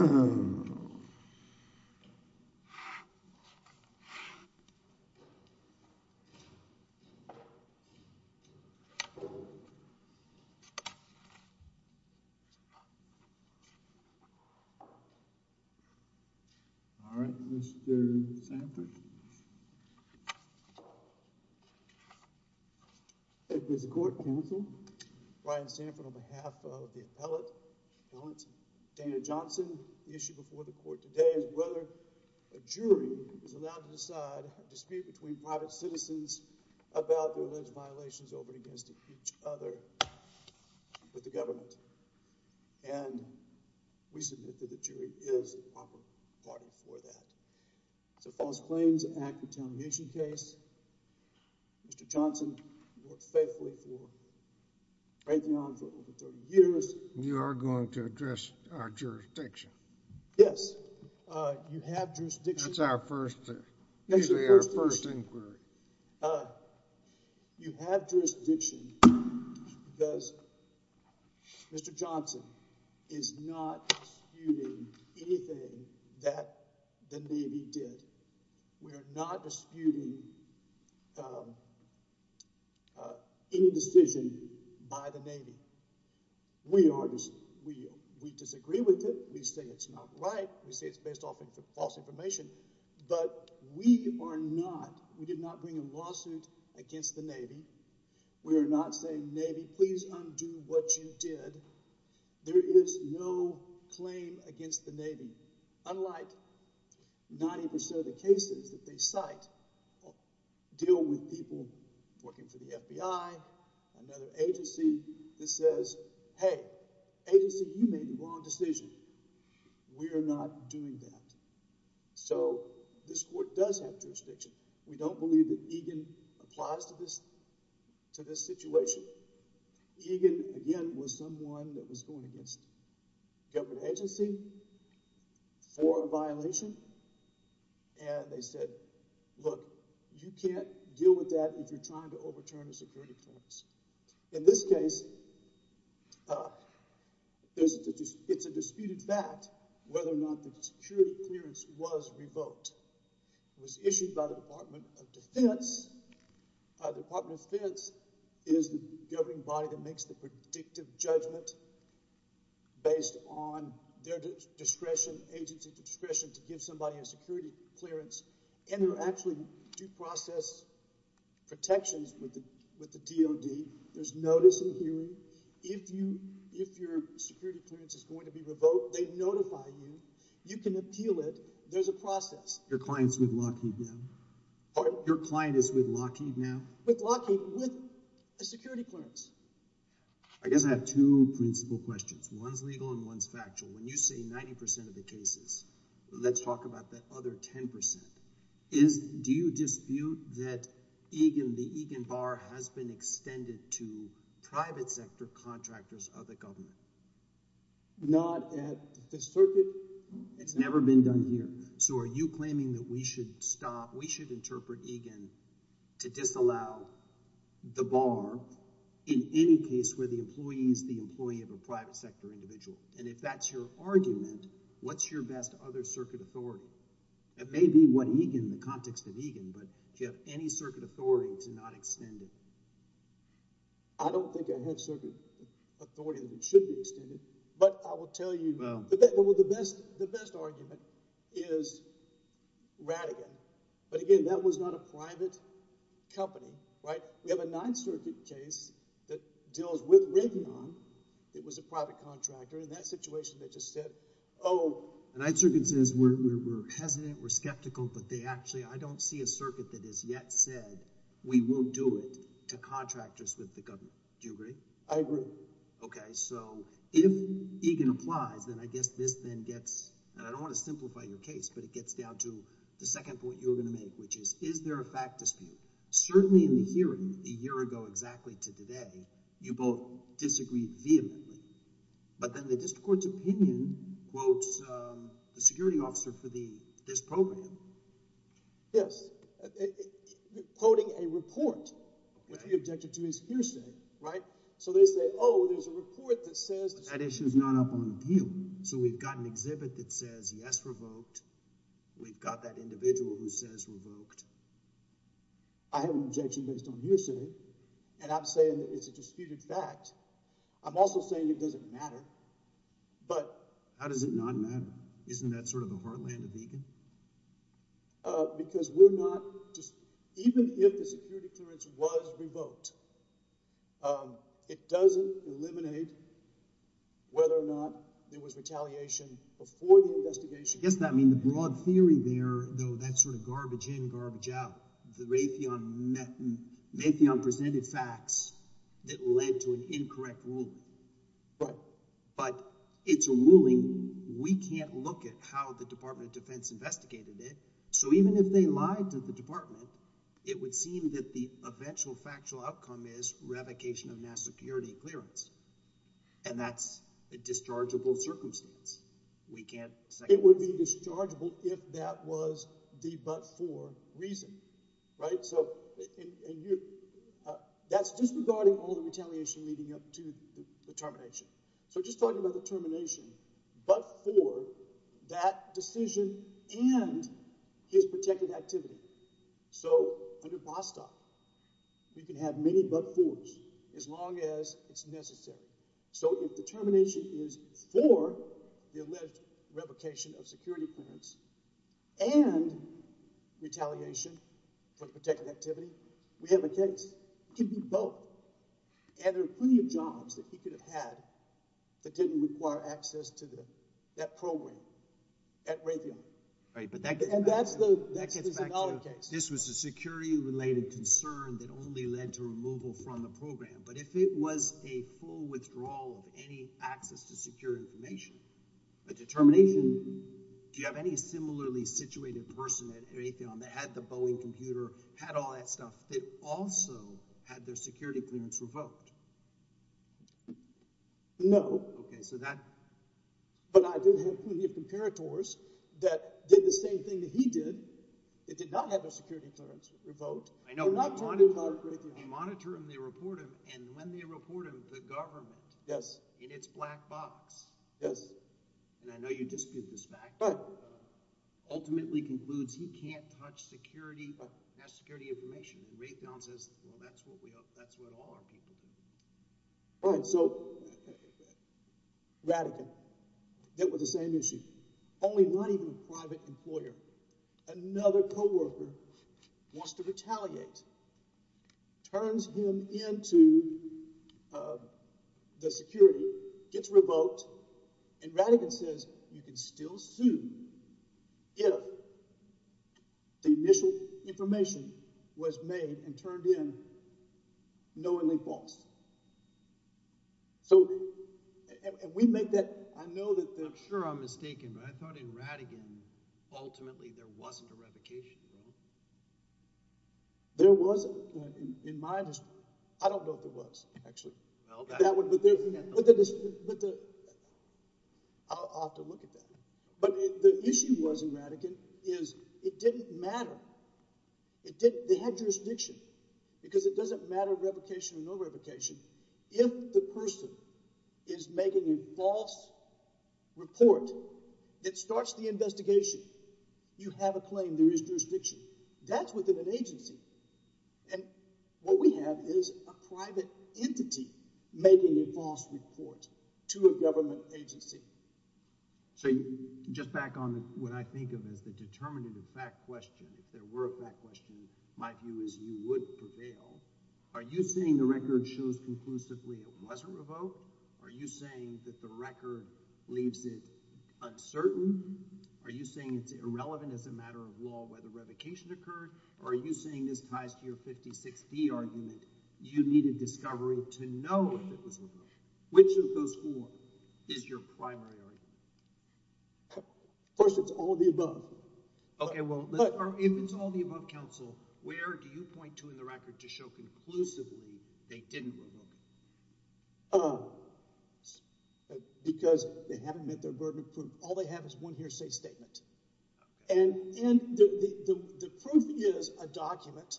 All right, Mr. Sanford. The issue before the court today is whether a jury is allowed to decide a dispute between private citizens about their alleged violations, or when against each other, with the government. And we submit that the jury is the proper party for that. So false claims, an act of tarnation case, Mr. Johnson worked faithfully for Raytheon for over 30 years. You are going to address our jurisdiction? Yes, you have jurisdiction. That's our first, usually our first inquiry. You have jurisdiction because Mr. Johnson is not disputing anything that the Navy did. We are not disputing any decision by the Navy. We disagree with it. We say it's not right. We say it's based off of false information. But we are not, we did not bring a lawsuit against the Navy. We are not saying, Navy, please undo what you did. There is no claim against the Navy, unlike 90% of the cases that they cite deal with people working for the FBI, another agency that says, hey, agency, you made the wrong decision. We are not doing that. So this court does have jurisdiction. We don't believe that Egan applies to this situation. Egan, again, was someone that was going against a government agency for a violation. And they said, look, you can't deal with that if you're trying to overturn a security clause. In this case, it's a disputed fact whether or not the security clearance was revoked. It was issued by the Department of Defense. The Department of Defense is the governing body that makes the predictive judgment based on their discretion, to give somebody a security clearance. And there are actually due process protections with the DOD. There's notice and hearing. If your security clearance is going to be revoked, they notify you. You can appeal it. There's a process. Your client's with Lockheed now? Pardon? Your client is with Lockheed now? With Lockheed, with a security clearance. I guess I have two principal questions. One's legal and one's factual. When you say 90 percent of the cases, let's talk about that other 10 percent. Do you dispute that Egan, the Egan bar, has been extended to private sector contractors of the government? Not at this circuit. It's never been done here. So are you claiming that we should stop, we should interpret Egan to disallow the bar in any case where the employee is the employee of a private sector individual? And if that's your argument, what's your best other circuit authority? It may be what Egan, in the context of Egan, but do you have any circuit authority to not extend it? I don't think I have circuit authority that should be extended, but I will tell you the best argument is Rattigan. But again, that was not a private company, right? We have a Ninth Circuit case that deals with Raytheon. It was a private contractor. In that situation, they just said, oh. The Ninth Circuit says we're hesitant, we're skeptical, but they actually – I don't see a circuit that has yet said we will do it to contractors with the government. Do you agree? I agree. Okay. So if Egan applies, then I guess this then gets – and I don't want to simplify your case, but it gets down to the second point you were going to make, which is is there a fact dispute? Certainly in the hearing a year ago exactly to today, you both disagreed vehemently, but then the district court's opinion quotes the security officer for this program. Yes. Quoting a report, which we objected to as hearsay, right? So they say, oh, there's a report that says – So we've got an exhibit that says yes, revoked. We've got that individual who says revoked. I have an objection based on hearsay, and I'm saying it's a disputed fact. I'm also saying it doesn't matter, but – How does it not matter? Isn't that sort of the heartland of Egan? Because we're not – even if the security clearance was revoked, it doesn't eliminate whether or not there was retaliation before the investigation. Yes, I mean the broad theory there, though, that's sort of garbage in, garbage out. Raytheon presented facts that led to an incorrect ruling. Right. But it's a ruling. We can't look at how the Department of Defense investigated it. So even if they lied to the department, it would seem that the eventual factual outcome is revocation of national security clearance, and that's a dischargeable circumstance. We can't – It would be dischargeable if that was the but-for reason, right? That's disregarding all the retaliation leading up to the termination. So just talking about the termination but-for, that decision, and his protected activity. So under Bostock, you can have many but-fors as long as it's necessary. So if the termination is for the alleged revocation of security clearance and retaliation for the protected activity, we have a case. It could be both. And there are plenty of jobs that he could have had that didn't require access to that program at Raytheon. Right, but that gets back to – And that's the – that's another case. This was a security-related concern that only led to removal from the program. But if it was a full withdrawal of any access to security information, the termination – do you have any similarly situated person at Raytheon that had the Boeing computer, had all that stuff, that also had their security clearance revoked? No. Okay, so that – But I did have plenty of comparators that did the same thing that he did. It did not have their security clearance revoked. I know. You monitor them, they report them, and when they report them, the government – Yes. – in its black box – Yes. – and I know you dispute this fact – Right. – ultimately concludes he can't touch security – Right. – national security information. Raytheon says, well, that's what we – that's what all our people do. Right. Radigan, that was the same issue, only not even a private employer. Another coworker wants to retaliate, turns him into the security, gets revoked, and Radigan says you can still sue if the initial information was made and turned in knowingly false. So – and we make that – I know that – Sure, I'm mistaken, but I thought in Radigan, ultimately, there wasn't a revocation, right? There wasn't. In my – I don't know if there was, actually. Well, that – But there – but the – I'll have to look at that. But the issue was in Radigan is it didn't matter. It didn't – they had jurisdiction, because it doesn't matter revocation or no revocation. If the person is making a false report that starts the investigation, you have a claim. There is jurisdiction. That's within an agency, and what we have is a private entity making a false report to a government agency. So just back on what I think of as the determinative fact question, if there were a fact question, my view is you would prevail. Are you saying the record shows conclusively it wasn't revoked? Are you saying that the record leaves it uncertain? Are you saying it's irrelevant as a matter of law whether revocation occurred, or are you saying this ties to your 56D argument? You need a discovery to know if it was revoked. Which of those four is your primary argument? First, it's all of the above. Okay, well, if it's all of the above, counsel, where do you point to in the record to show conclusively they didn't revoke it? Because they haven't met their burden of proof. All they have is one hearsay statement. And the proof is a document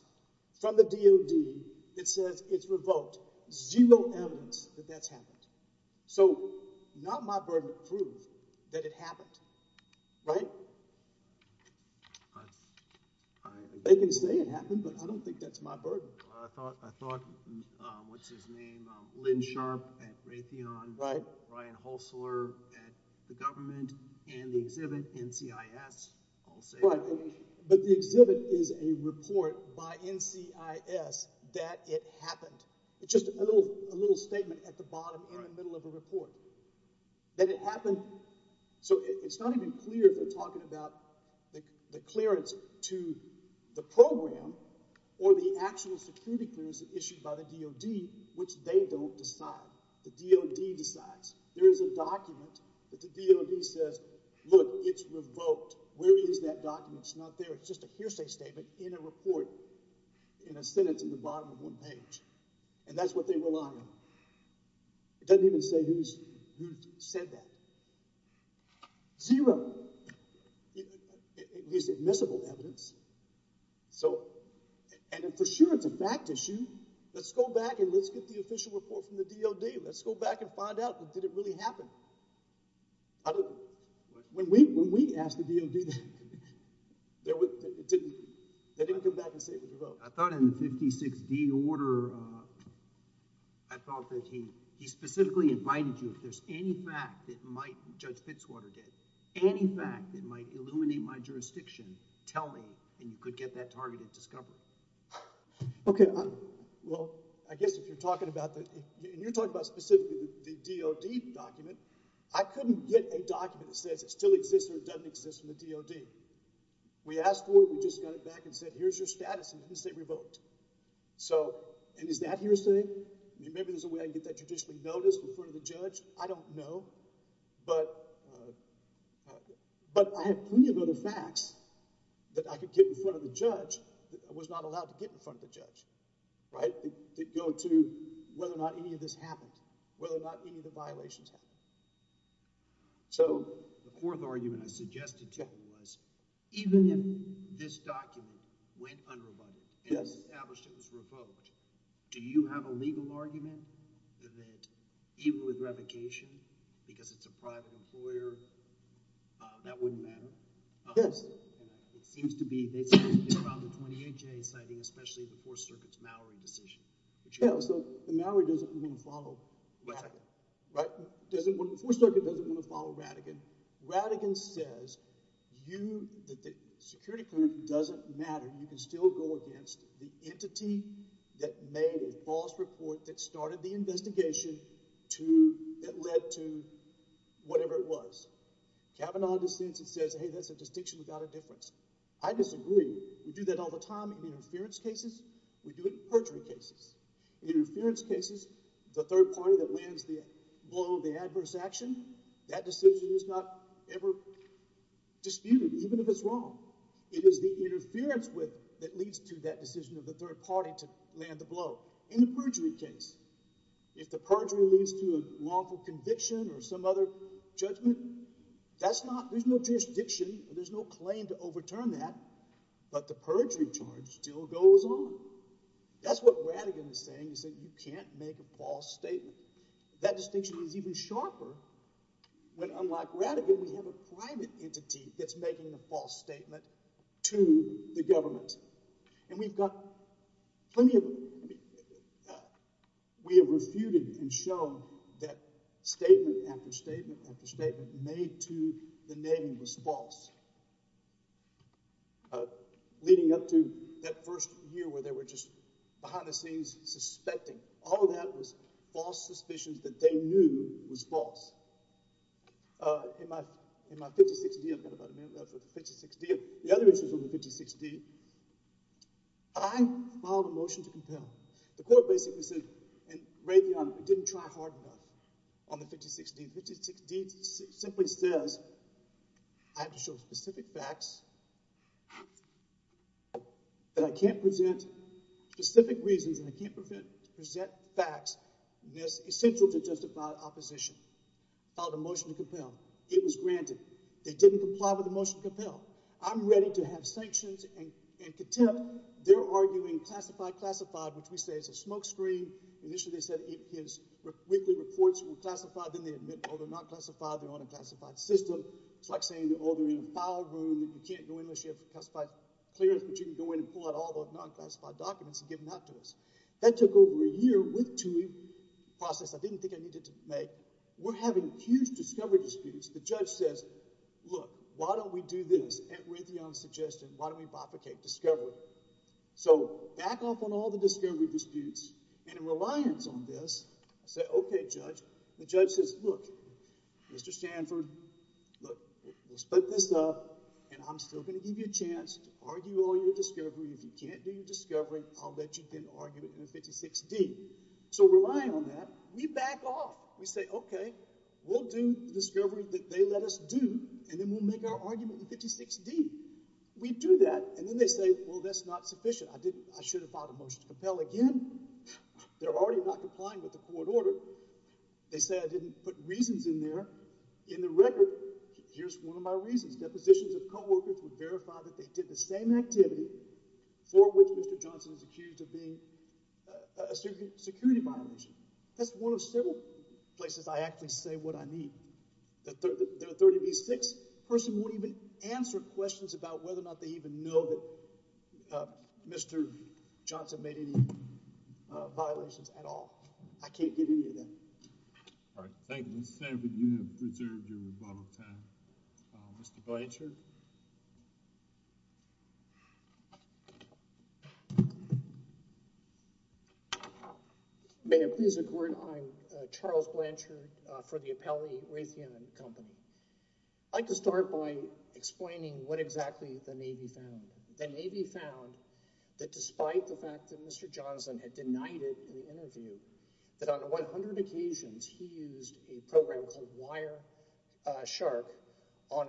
from the DOD that says it's revoked. Zero evidence that that's happened. So not my burden to prove that it happened. Right? They can say it happened, but I don't think that's my burden. I thought, what's his name, Lynn Sharp at Raytheon, Brian Holsler at the government, and the exhibit NCIS. But the exhibit is a report by NCIS that it happened. It's just a little statement at the bottom or in the middle of a report that it happened. So it's not even clear if they're talking about the clearance to the program or the actual security clearance issued by the DOD, which they don't decide. The DOD decides. There is a document that the DOD says, look, it's revoked. Where is that document? It's not there. It's just a hearsay statement in a report in a sentence at the bottom of one page. And that's what they rely on. It doesn't even say who said that. Zero is admissible evidence. So and for sure it's a fact issue. Let's go back and let's get the official report from the DOD. Let's go back and find out, did it really happen? When we asked the DOD, they didn't come back and say it was revoked. I thought in the 56D order, I thought that he specifically invited you. If there's any fact that might, Judge Fitzwater did, any fact that might illuminate my jurisdiction, tell me and you could get that targeted discovery. Okay. Well, I guess if you're talking about the, and you're talking about specifically the DOD document, I couldn't get a document that says it still exists or doesn't exist from the DOD. We asked for it. We just got it back and said, here's your status and you say revoked. So, and is that hearsay? Maybe there's a way I can get that judicially noticed in front of the judge. I don't know. But, but I have plenty of other facts that I could get in front of the judge that I was not allowed to get in front of the judge. Right? That go to whether or not any of this happened, whether or not any of the violations happened. So, the fourth argument I suggested to you was, even if this document went under a budget and established it was revoked, do you have a legal argument that even with revocation, because it's a private employer, that wouldn't matter? Yes. It seems to be, they say it's been around the 28 days citing especially the Fourth Circuit's Mallory decision. Yeah, so the Mallory doesn't even follow. Right? Right? The Fourth Circuit doesn't want to follow Rattigan. Rattigan says you, that the security clerk doesn't matter. You can still go against the entity that made a false report that started the investigation to, that led to whatever it was. Kavanaugh dissents and says, hey, that's a distinction without a difference. I disagree. We do that all the time in interference cases. We do it in perjury cases. In interference cases, the third party that lands the blow of the adverse action, that decision is not ever disputed, even if it's wrong. It is the interference that leads to that decision of the third party to land the blow. In the perjury case, if the perjury leads to a lawful conviction or some other judgment, that's not, there's no jurisdiction, there's no claim to overturn that, but the perjury charge still goes on. That's what Rattigan is saying, is that you can't make a false statement. That distinction is even sharper when, unlike Rattigan, we have a private entity that's making a false statement to the government. And we've got plenty of, we have refuted and shown that statement after statement after statement made to the Navy was false. Leading up to that first year where they were just behind the scenes suspecting. All of that was false suspicions that they knew was false. In my 56-D, I've got about a minute left for the 56-D. The other issue is with the 56-D. I filed a motion to compel. The court basically said, and Ray Dionne didn't try hard enough on the 56-D. The 56-D simply says, I have to show specific facts that I can't present specific reasons and I can't present facts that's essential to justify opposition. I filed a motion to compel. It was granted. They didn't comply with the motion to compel. I'm ready to have sanctions and contempt. They're arguing classified, classified, which we say is a smokescreen. Initially, they said his weekly reports were classified. Then they admit, oh, they're not classified. They're on a classified system. It's like saying, oh, they're in a file room. You can't go in unless you have classified clearance. But you can go in and pull out all those non-classified documents and give them out to us. That took over a year with TUI process. I didn't think I needed to make. We're having huge discovery disputes. The judge says, look, why don't we do this? And Ray Dionne suggested, why don't we replicate discovery? So back off on all the discovery disputes. And in reliance on this, I said, OK, judge. The judge says, look, Mr. Stanford, let's split this up. And I'm still going to give you a chance to argue all your discovery. If you can't do your discovery, I'll bet you can't argue it in 56D. So relying on that, we back off. We say, OK, we'll do the discovery that they let us do. And then we'll make our argument in 56D. We do that. And then they say, well, that's not sufficient. I should have filed a motion to compel again. They're already not complying with the court order. They say I didn't put reasons in there. In the record, here's one of my reasons. Depositions of coworkers would verify that they did the same activity for which Mr. Johnson is accused of being a security violation. That's one of several places I actually say what I mean. The 30B6 person won't even answer questions about whether or not they even know that Mr. Johnson made any violations at all. I can't give you any of that. All right. Thank you, Mr. Stanford. You have preserved your rebuttal time. Mr. Blanchard? Thank you. May it please the court. I'm Charles Blanchard for the Appellee Raytheon Company. I'd like to start by explaining what exactly the Navy found. The Navy found that despite the fact that Mr. Johnson had denied it in the interview, that on 100 occasions he used a program called Wireshark on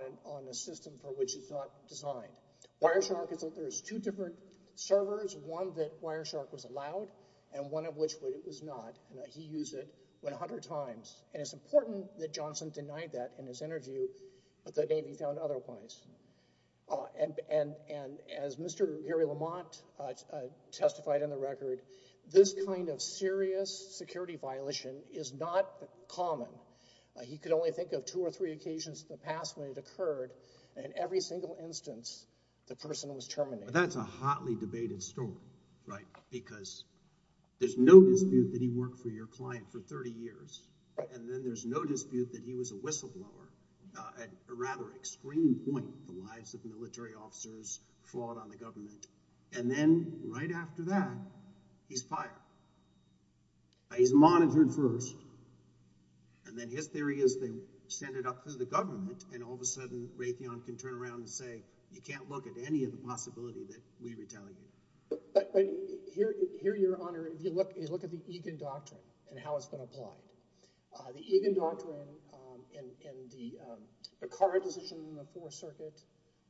a system for which he thought designed. Wireshark, there's two different servers, one that Wireshark was allowed and one of which it was not. He used it 100 times. And it's important that Johnson denied that in his interview, but the Navy found otherwise. And as Mr. Gary Lamont testified in the record, this kind of serious security violation is not common. He could only think of two or three occasions in the past when it occurred, and in every single instance the person was terminated. That's a hotly debated story, right, because there's no dispute that he worked for your client for 30 years, and then there's no dispute that he was a whistleblower at a rather extreme point in the lives of military officers, fraud on the government. And then right after that, he's fired. He's monitored first, and then his theory is they send it up to the government and all of a sudden Raytheon can turn around and say, you can't look at any of the possibility that we were telling you. But here, Your Honor, if you look at the Egan Doctrine and how it's been applied, the Egan Doctrine and the Carr decision in the Fourth Circuit,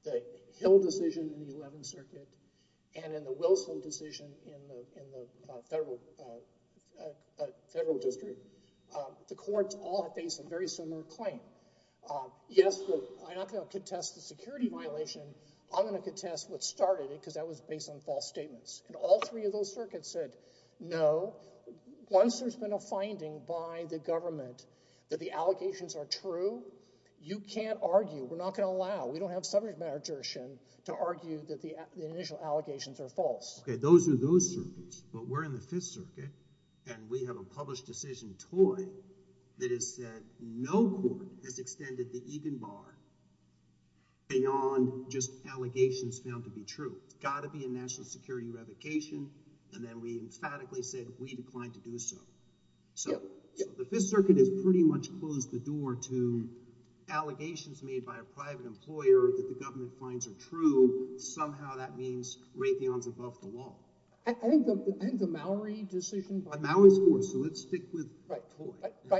the Hill decision in the Eleventh Circuit, and then the Wilson decision in the Federal District, the courts all face a very similar claim. Yes, I'm not going to contest the security violation. I'm going to contest what started it because that was based on false statements, and all three of those circuits said no. Once there's been a finding by the government that the allegations are true, you can't argue. We're not going to allow it. We don't have sufficient jurisdiction to argue that the initial allegations are false. Okay, those are those circuits, but we're in the Fifth Circuit, and we have a published decision toy that has said no court has extended the Egan bar beyond just allegations found to be true. It's got to be a national security revocation, and then we emphatically said we declined to do so. So the Fifth Circuit has pretty much closed the door to allegations made by a private employer that the government finds are true. Somehow that means Raytheon's above the wall. I think the Mowry decision... But Mowry's poor, so let's stick with... Right,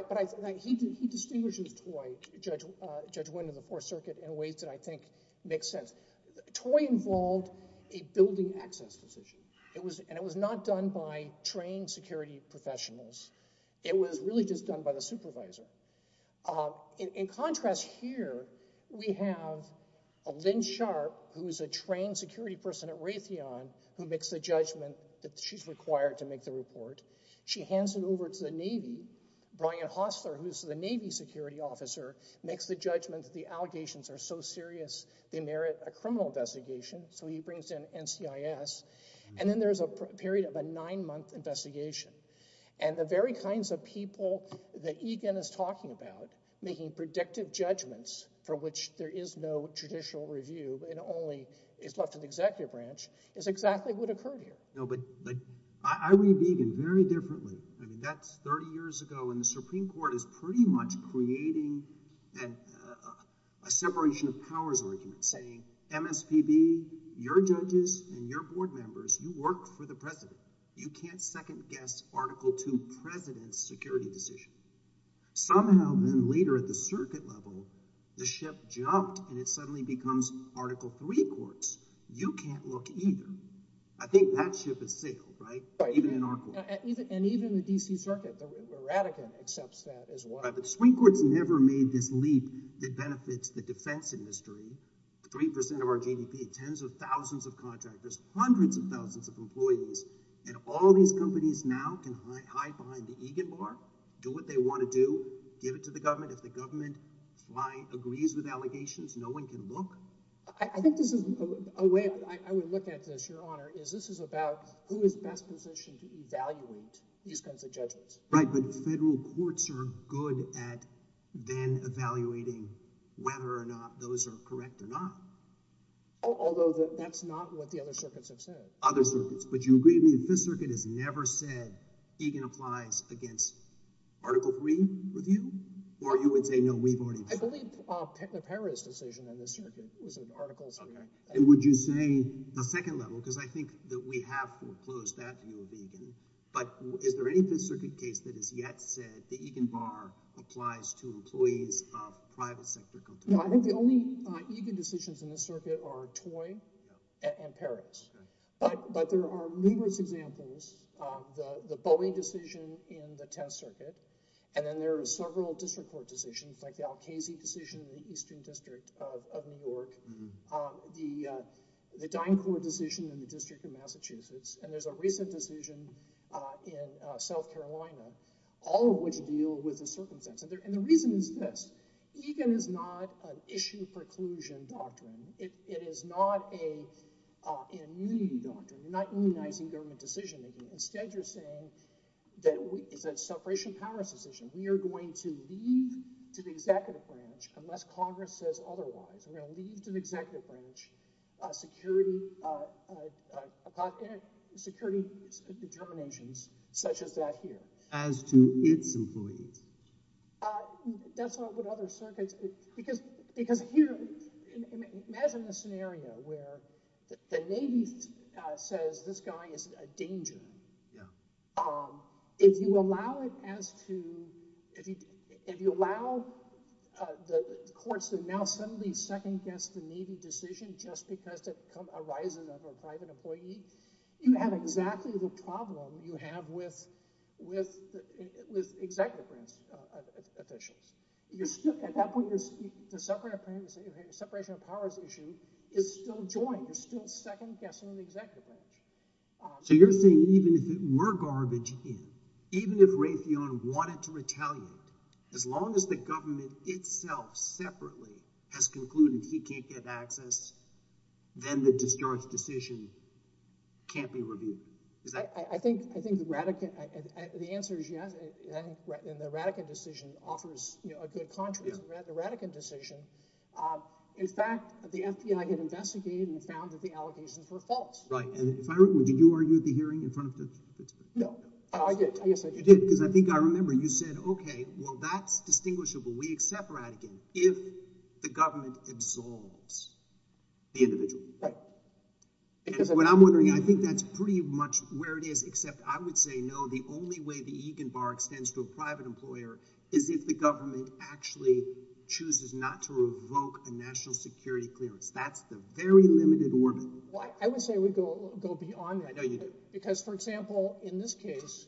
but he distinguishes toy, Judge Wynn, of the Fourth Circuit in ways that I think make sense. Toy involved a building access decision, and it was not done by trained security professionals. It was really just done by the supervisor. In contrast here, we have Lynn Sharp, who's a trained security person at Raytheon, who makes the judgment that she's required to make the report. She hands it over to the Navy. Brian Hostler, who's the Navy security officer, makes the judgment that the allegations are so serious they merit a criminal investigation, so he brings in NCIS. And then there's a period of a nine-month investigation. And the very kinds of people that Egan is talking about, making predictive judgments for which there is no judicial review and only is left in the executive branch, is exactly what occurred here. No, but I read Egan very differently. I mean, that's 30 years ago, and the Supreme Court is pretty much creating a separation of powers argument, saying, MSPB, your judges and your board members, you work for the president. You can't second-guess Article 2 president's security decision. Somehow then later at the circuit level, the ship jumped, and it suddenly becomes Article 3 courts. You can't look either. I think that ship is sealed, right? Even in our court. And even the D.C. Circuit. The Radican accepts that as well. Right, but the Supreme Court's never made this leap that benefits the defense industry. Three percent of our GDP, tens of thousands of contractors, hundreds of thousands of employees, and all these companies now can hide behind the Egan bar, do what they want to do, give it to the government. If the government agrees with allegations, no one can look. I think this is a way... I would look at this, Your Honor, is this is about who is best positioned to evaluate these kinds of judgments. Right, but federal courts are good at then evaluating whether or not those are correct or not. Although that's not what the other circuits have said. Other circuits. But you agree with me that the Fifth Circuit has never said Egan applies against Article 3 review? Or you would say, no, we've already... I believe the Paris decision on this circuit was in Article 3. And would you say the second level, because I think that we have foreclosed that view of Egan, but is there any Fifth Circuit case that has yet said the Egan bar applies to employees of private sector companies? No, I think the only Egan decisions in this circuit are toy and Paris. But there are numerous examples. The Boeing decision in the test circuit. And then there are several district court decisions like the Alkazi decision in the Eastern District of New York. The Dine Court decision in the District of Massachusetts. And there's a recent decision in South Carolina, all of which deal with the circumstances. And the reason is this. Egan is not an issue preclusion doctrine. It is not an immunity doctrine. You're not immunizing government decision-making. Instead, you're saying that it's a separation of powers decision. We are going to leave to the executive branch, unless Congress says otherwise, we're going to leave to the executive branch security determinations such as that here. As to its employees? That's not what other circuits... Because here, imagine a scenario where the Navy says, this guy is a danger. Yeah. If you allow it as to... If you allow the courts to now suddenly second-guess the Navy decision just because it comes to the horizon of a private employee, you have exactly the problem you have with executive branch officials. At that point, the separation of powers issue is still joined, is still second-guessing the executive branch. So you're saying even if it were garbage, even if Raytheon wanted to retaliate, as long as the government itself separately has concluded he can't get access, then the discharge decision can't be reviewed. I think the answer is yes, and the Rattigan decision offers a good contrast. The Rattigan decision, in fact, the FBI had investigated and found that the allegations were false. Right. Did you argue at the hearing in front of the... No. I did. You did, because I think I remember you said, okay, well, that's distinguishable. We accept Rattigan if the government absolves the individual. Right. What I'm wondering, I think that's pretty much where it is, except I would say no, the only way the Egan Bar extends to a private employer is if the government actually chooses not to revoke a national security clearance. That's the very limited orbit. Well, I would say we go beyond that. I know you do. Because, for example, in this case,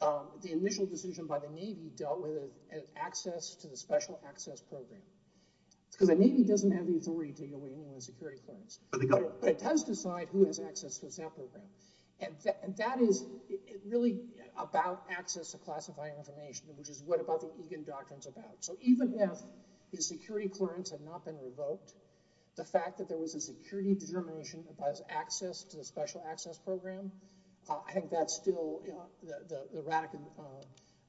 the initial decision by the Navy dealt with an access to the special access program. The Navy doesn't have the authority to take away any of the security clearance. But it does decide who has access to that program. And that is really about access to classified information, which is what about the Egan doctrine is about. So even if the security clearance had not been revoked, the fact that there was a security determination about access to the special access program, I think that's still the Rattigan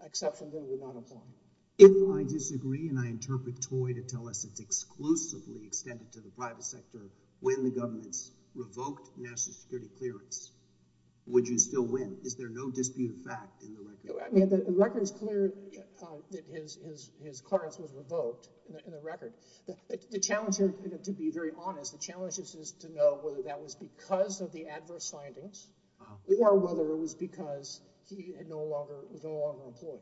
exception that we're not applying. If I disagree and I interpret toy to tell us it's exclusively extended to the private sector when the government's revoked national security clearance, would you still win? Is there no disputed fact in the record? The record is clear that his clearance was revoked in the record. The challenge here, to be very honest, the challenge is to know whether that was because of the adverse findings or whether it was because he was no longer employed.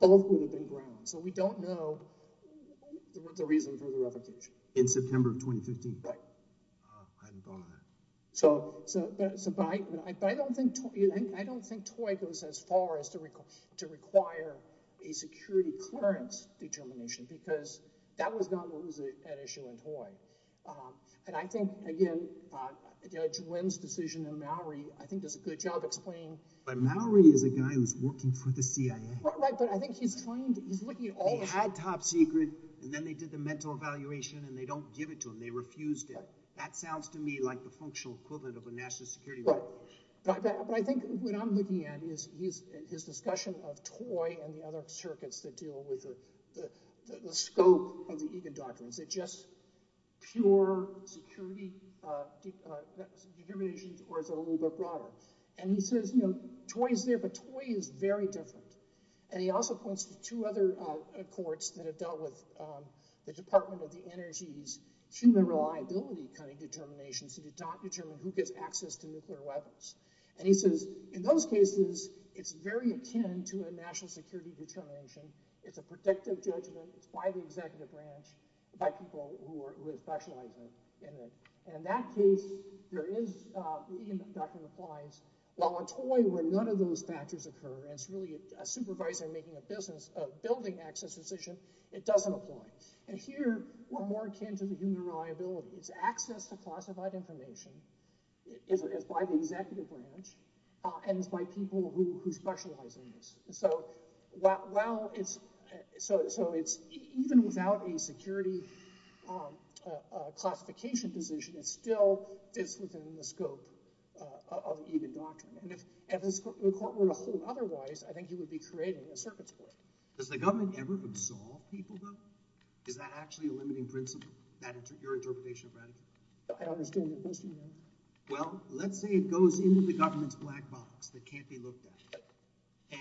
Both would have been ground. So we don't know the reason for the revocation. In September of 2015? Right. I'm gone. So, but I don't think toy goes as far as to require a security clearance determination because that was not an issue in toy. And I think again, Judge Wynn's decision in Mallory, I think does a good job explaining. But Mallory is a guy who's working for the CIA. Right, but I think he's trained. He had top secret and then they did the mental evaluation and they don't give it to him. They refused it. That sounds to me like the functional equivalent of a national security record. Right, but I think what I'm looking at is his discussion of toy and the other circuits that deal with the scope of the Egan documents. Is it just pure security determinations or is it a little bit broader? And he says, you know, toy is there, but toy is very different. And he also points to two other courts that have dealt with the Department of the Energy's human reliability kind of determinations that do not determine who gets access to nuclear weapons. And he says, in those cases, it's very akin to a national security determination. It's a predictive judgment. It's by the executive branch, by people who are specializing in it. And in that case, there is, the Egan document implies, while in toy where none of those factors occur, it's really a supervisor making a business of building access decision. It doesn't apply. And here we're more akin to the human reliability. It's access to classified information. It's by the executive branch and it's by people who specialize in this. So while it's, so it's even without a security classification decision, it's still, it's within the scope of the Egan document. And if the court were to hold otherwise, I think you would be creating a circuit. Does the government ever absolve people though? Is that actually a limiting principle? Your interpretation of that? I don't understand your question. Well, let's say it goes into the government's black box that can't be looked at.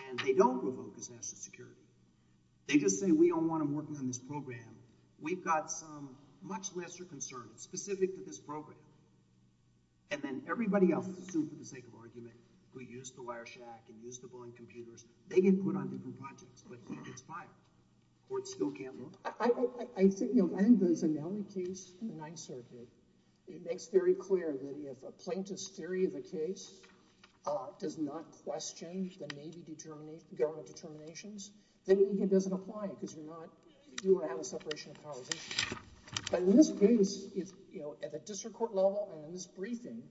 And they don't revoke his national security. They just say, we don't want him working on this program. We've got some much lesser concerns specific to this program. And then everybody else, assumed for the sake of argument, who used the wire shack and used the boring computers, they get put on different projects. But it's fine. The court still can't look. I think, you know, I think there's another case, the Ninth Circuit. It makes very clear that if a plaintiff's theory of the case does not question the Navy determinate, government determinations, then maybe it doesn't apply because you're not, you don't have a separation of powers issue. But in this case, if, you know, at the district court level and in this briefing,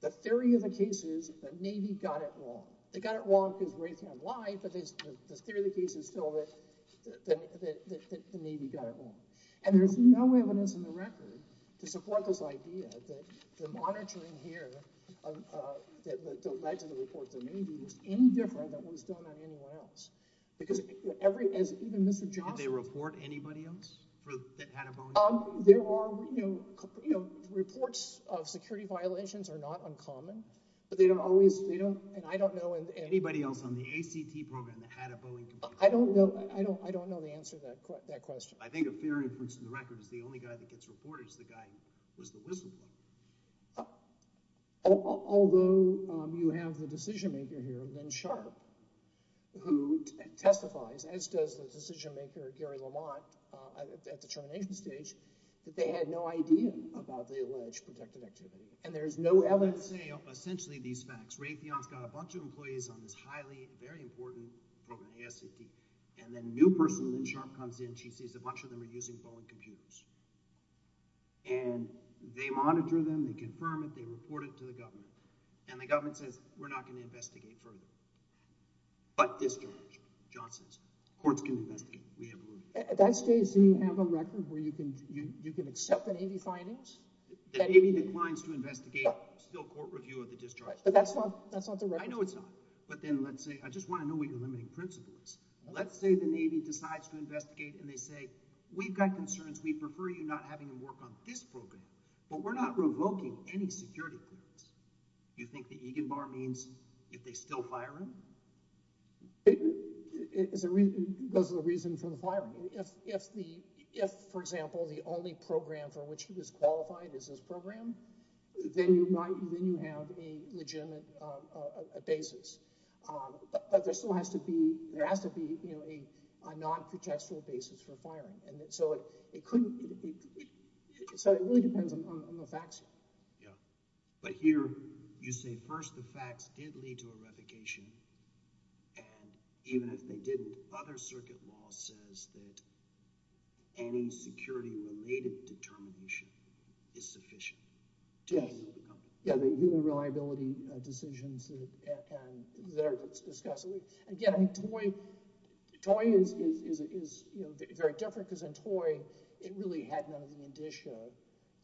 the theory of the case is the Navy got it wrong. They got it wrong because Raytheon lied, but the theory of the case is still that the Navy got it wrong. And there's no evidence in the record to support this idea that the monitoring here that led to the report to the Navy was any different than what was done on anyone else. Because every, as even Mr. Johnson- Did they report anybody else that had a bone injury? There are, you know, reports of security violations are not uncommon, but they don't always, they don't, and I don't know if- Anybody else on the ACT program that had a bone injury? I don't know. I don't, I don't know the answer to that question. I think a theory puts in the record it's the only guy that gets reported is the guy who was the whistleblower. Although you have the decision maker here, Ben Sharp, who testifies, as does the decision maker, Gary Lamont, at the determination stage, that they had no idea about the alleged protective activity. And there's no evidence- Let's say, essentially, these facts. Ray Theon's got a bunch of employees on this highly, very important program, the ACT. And then a new person, Lynn Sharp, comes in, she sees a bunch of them are using Boeing computers. And they monitor them, they confirm it, they report it to the government. And the government says, we're not going to investigate further. But this judge, Johnson's, courts can investigate. We have a ruling. At that stage, do you have a record where you can, you can accept the Navy findings? The Navy declines to investigate. Still, court reviews. But that's not, that's not the record. I know it's not. But then, let's say, I just want to know what your limiting principle is. Let's say the Navy decides to investigate, and they say, we've got concerns, we prefer you not having to work on this program. But we're not revoking any security claims. You think the Egan Bar means if they still fire him? It's a reason, those are the reasons for the firing. If, if the, if, for example, the only program for which he was qualified is this program, then you might, then you have to be legitimate a basis. But there still has to be, there has to be, you know, a non-contextual basis for firing. And so, it couldn't, so it really depends on the facts. Yeah. But here, you say, first, the facts did lead other circuit law says that any security related determination is sufficient. Yes. Yeah, the human reliance is sufficient. And, and, and, and the, and the, the probability decisions that are discussed. And, again, I mean, TOI, TOI is, is, is, is, is, you know, very different because in TOI, it really had none of the initial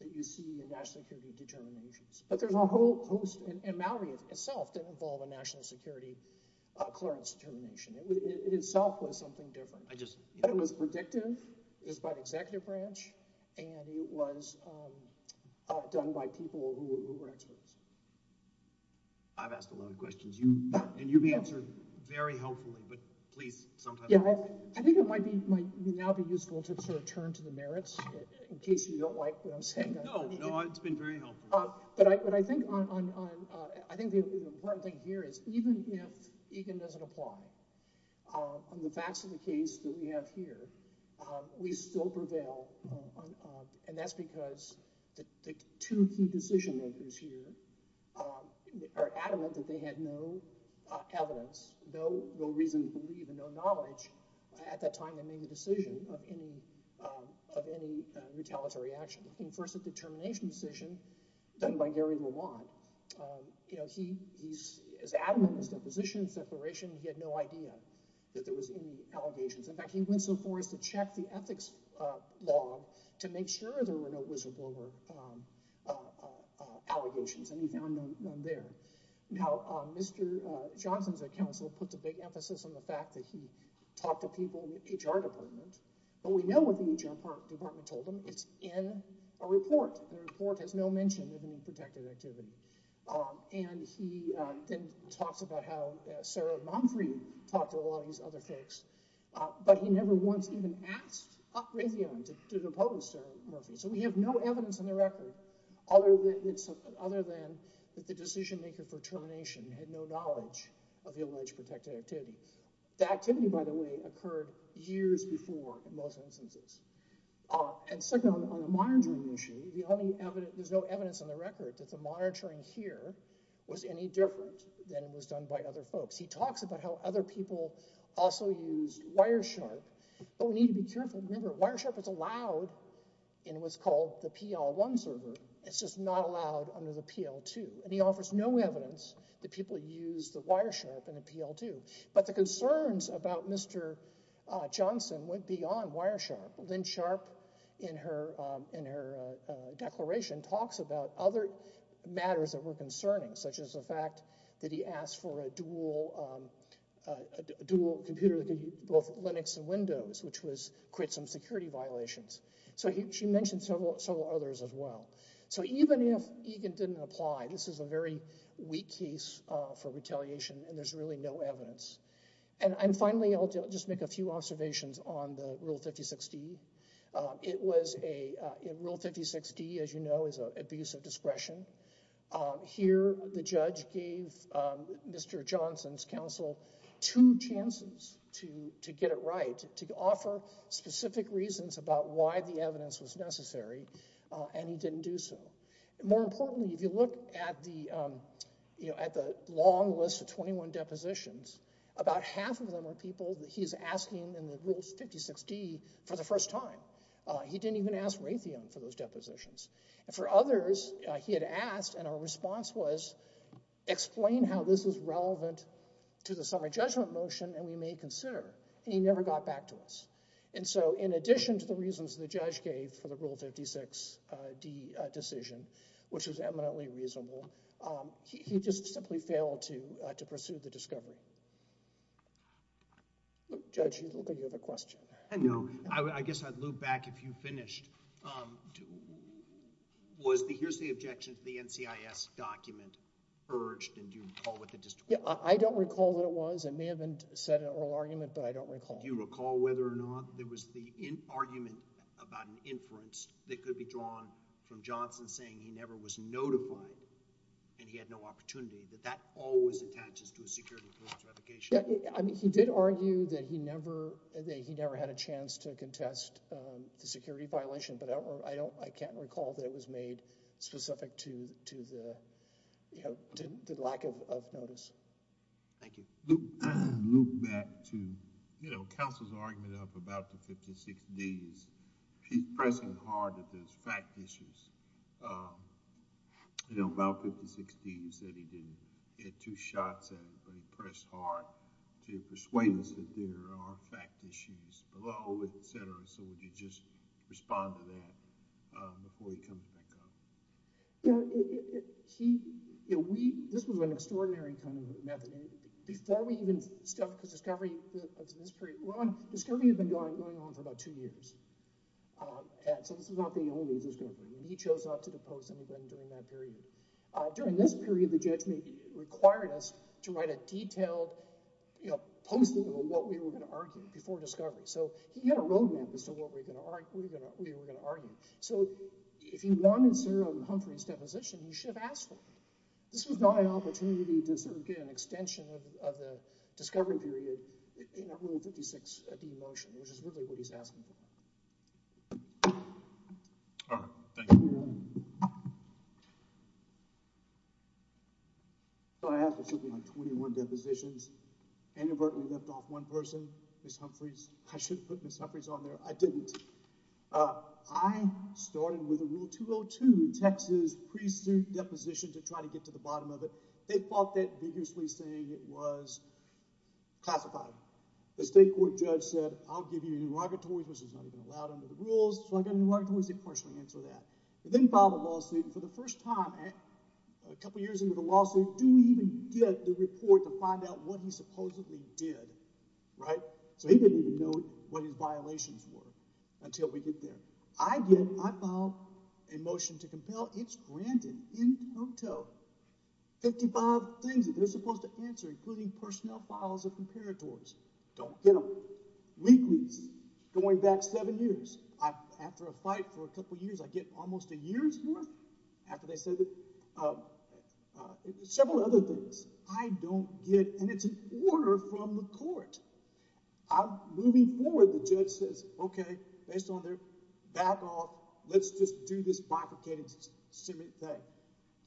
that you see in national security determinations. But there's a whole, and MAORI itself didn't involve a national security clearance determination. It, it, it itself was something different. I just, it was predictive, it was by the executive branch, and it was done by people who were experts. I've asked a lot of questions. You, and you've answered very helpfully, but please, sometimes... Yeah, I, I think it might be, might now be useful to sort of turn to the merits, in case you don't like what I'm saying. No, no, it's been very helpful. But I, but I think on, on, on, I think the important thing here is, even if even if it doesn't apply, on the facts of the case that we have here, we still prevail, and that's because the two key elements of this case that we merits, evidence, and the merits of the evidence. And the merits of the evidence are the merits of the evidence that is in the case. And he talks about how he talked about these other facts, but he never once asked Humphrey to talk to him. So we have no evidence other than the decision maker that he had no knowledge of the alleged protected activities. The activity occurred years before. And second, on the monitoring issue, there's no evidence on the record that the monitoring here was any different than it was done before. He talks about how other people also use wire sharp. Wire sharp is allowed in what's called the PL1 server. It's just not allowed under the PL2. He offers no evidence that people use the wire sharp. But the concerns about Mr. Johnson went beyond wire sharp. Lynn sharp in her declaration talks about other matters that were concerning such as the fact that he asked for a dual computer which was security violations. She mentioned several others as well. Even if you look at the long list of 21 other half are completely true. The other half are completely false. The other half are completely true. The other half are completely false. He didn't even ask Raytheon for those depositions. For others he had asked and our response was explain how this is relevant to the motion and we may consider and he never got back to us. In addition to the reasons that the judge gave for the rule 56 decision which was eminently reasonable, he just simply failed to pursue the discovery. Judge, you have a question? I guess I would loop back if you finished. Was the objection to the NCIS document urged? I don't recall that it was. It may have been said but I don't recall. Do you recall whether or not there was the argument about an inference that could be drawn from Johnson saying he never had a chance to contest the security violation but I can't recall that it was made specific to the lack of notice. Thank you. Loop back to counsel's argument about the 56D. He's pressing hard at the fact issues. You know, about 56D, he said he didn't get two shots at it but he pressed hard to persuade us that there are fact issues below, et cetera. So, would you just respond to that before you come back up? This was an extraordinary method. I important to remember that this is not the only discovery. During this period the judge required us to write a detailed posting of what we were going to argue before discovery. So, he had a roadmap as to what we to argue before discovery. I don't know what he was asking. I asked for something like 21 depositions. I inadvertently left off one person, Ms. Humphreys. I didn't. I started with a rule 202, Texas pre-suit deposition to try to get to the bottom of it. They thought that was classified. The state court judge said I'll give you an interrogatory which is not allowed under the rules. Then filed a lawsuit. For the first time a couple years into the lawsuit, he didn't know what his violations were. I filed a motion to compel. It's granted. 55 things they're supposed to answer including personnel files. Don't get them. Going back seven years, after a fight for a couple years, I get almost a year's worth. Several other things I don't get. It's an order from the court. Moving forward, the judge says, okay, let's just do this bifurcated thing.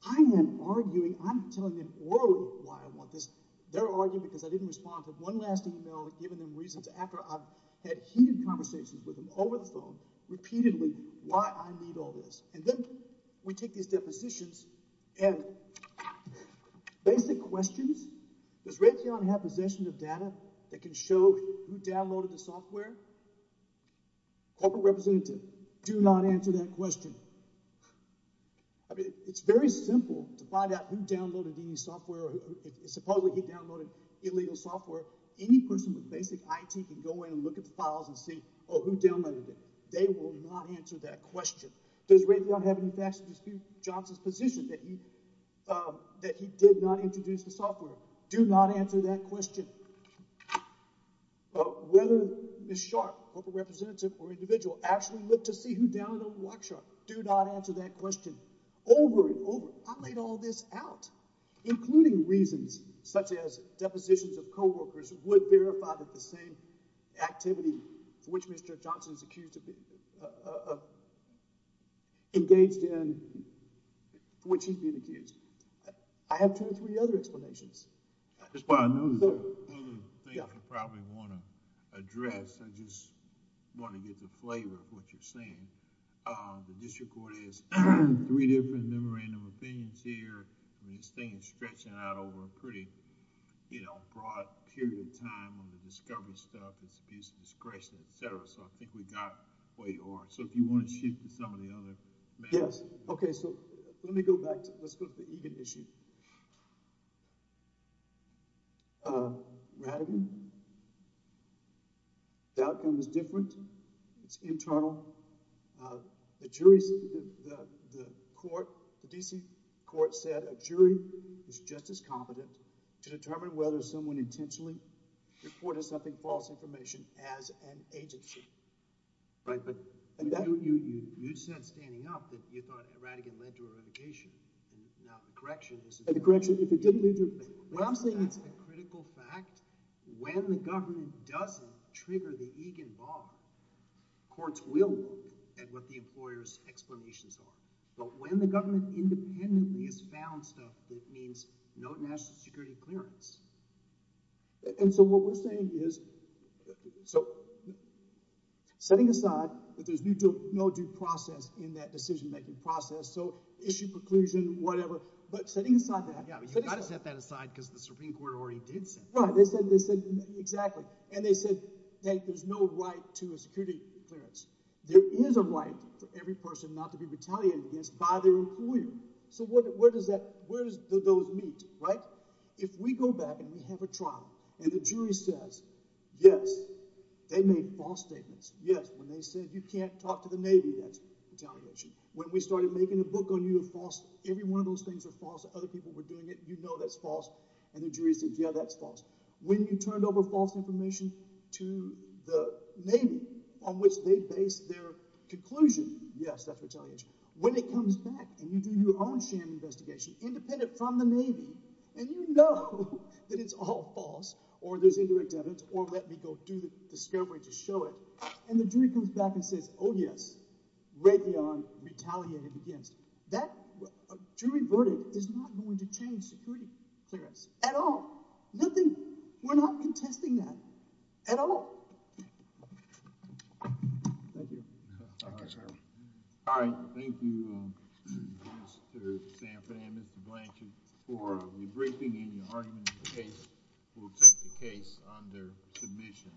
I'm telling them why I want this. They're arguing because I didn't respond. I had heated conversations over the phone repeatedly why I need all this. Then we take these depositions and basic questions, does Raytheon have possession of data that can show who downloaded the software? Corporate representative, do not answer that question. It's very simple to find out who downloaded the software. Supposedly he downloaded illegal software, any person with basic IT can look at the files and see who downloaded it. They will not answer that question. Does Raytheon have any facts to dispute Johnson's position that he did not introduce the software? Do not answer that question. Whether Ms. Sharp, corporate representative, or individual, actually looked to see who downloaded Lockshark, do not answer that question. Over and over. I laid all this out, including reasons such as depositions of co-workers would verify the same type software that Johnson used. I have two or three other explanations. I just want to get the flavor of what you are saying. The district court has three different opinions here. This thing is stretching out over a pretty broad period of time. I think we got where you are. If you want to shift to some of the other matters. Let me go back to the Egan issue. Radigan, the outcome is different. It is internal. The D.C. court said a jury is just as competent to determine whether someone intentionally reported false information as an agency. You said standing up that you thought Radigan led to eradication. The correction is a critical fact. When the government doesn't trigger the correction, it means no national security clearance. Setting aside that there is no due process in that decision-making process, issue preclusion, whatever. Setting aside that. They said there is no right to a security clearance. There is a right for every person not to be retaliated against by their employer. Where do those meet? If we go back and have a trial and the jury says yes, they made false statements, yes, when they said you can't talk to the Navy, that's retaliation. When you turned over false information to the jury, when it comes back and you do your own sham investigation independent from the Navy and you know that it's all false or there's indirect evidence or let me go do the discovery to show it, and the jury comes back and says, oh, yes, Raytheon retaliated against that. That jury verdict is not going to change security clearance at all. We're not contesting that at all. Thank you. Thank you, sir. All right. Thank you, Mr. Sanford and Mr. Blanchard for your briefing and your argument in the case. We'll take the case under submission.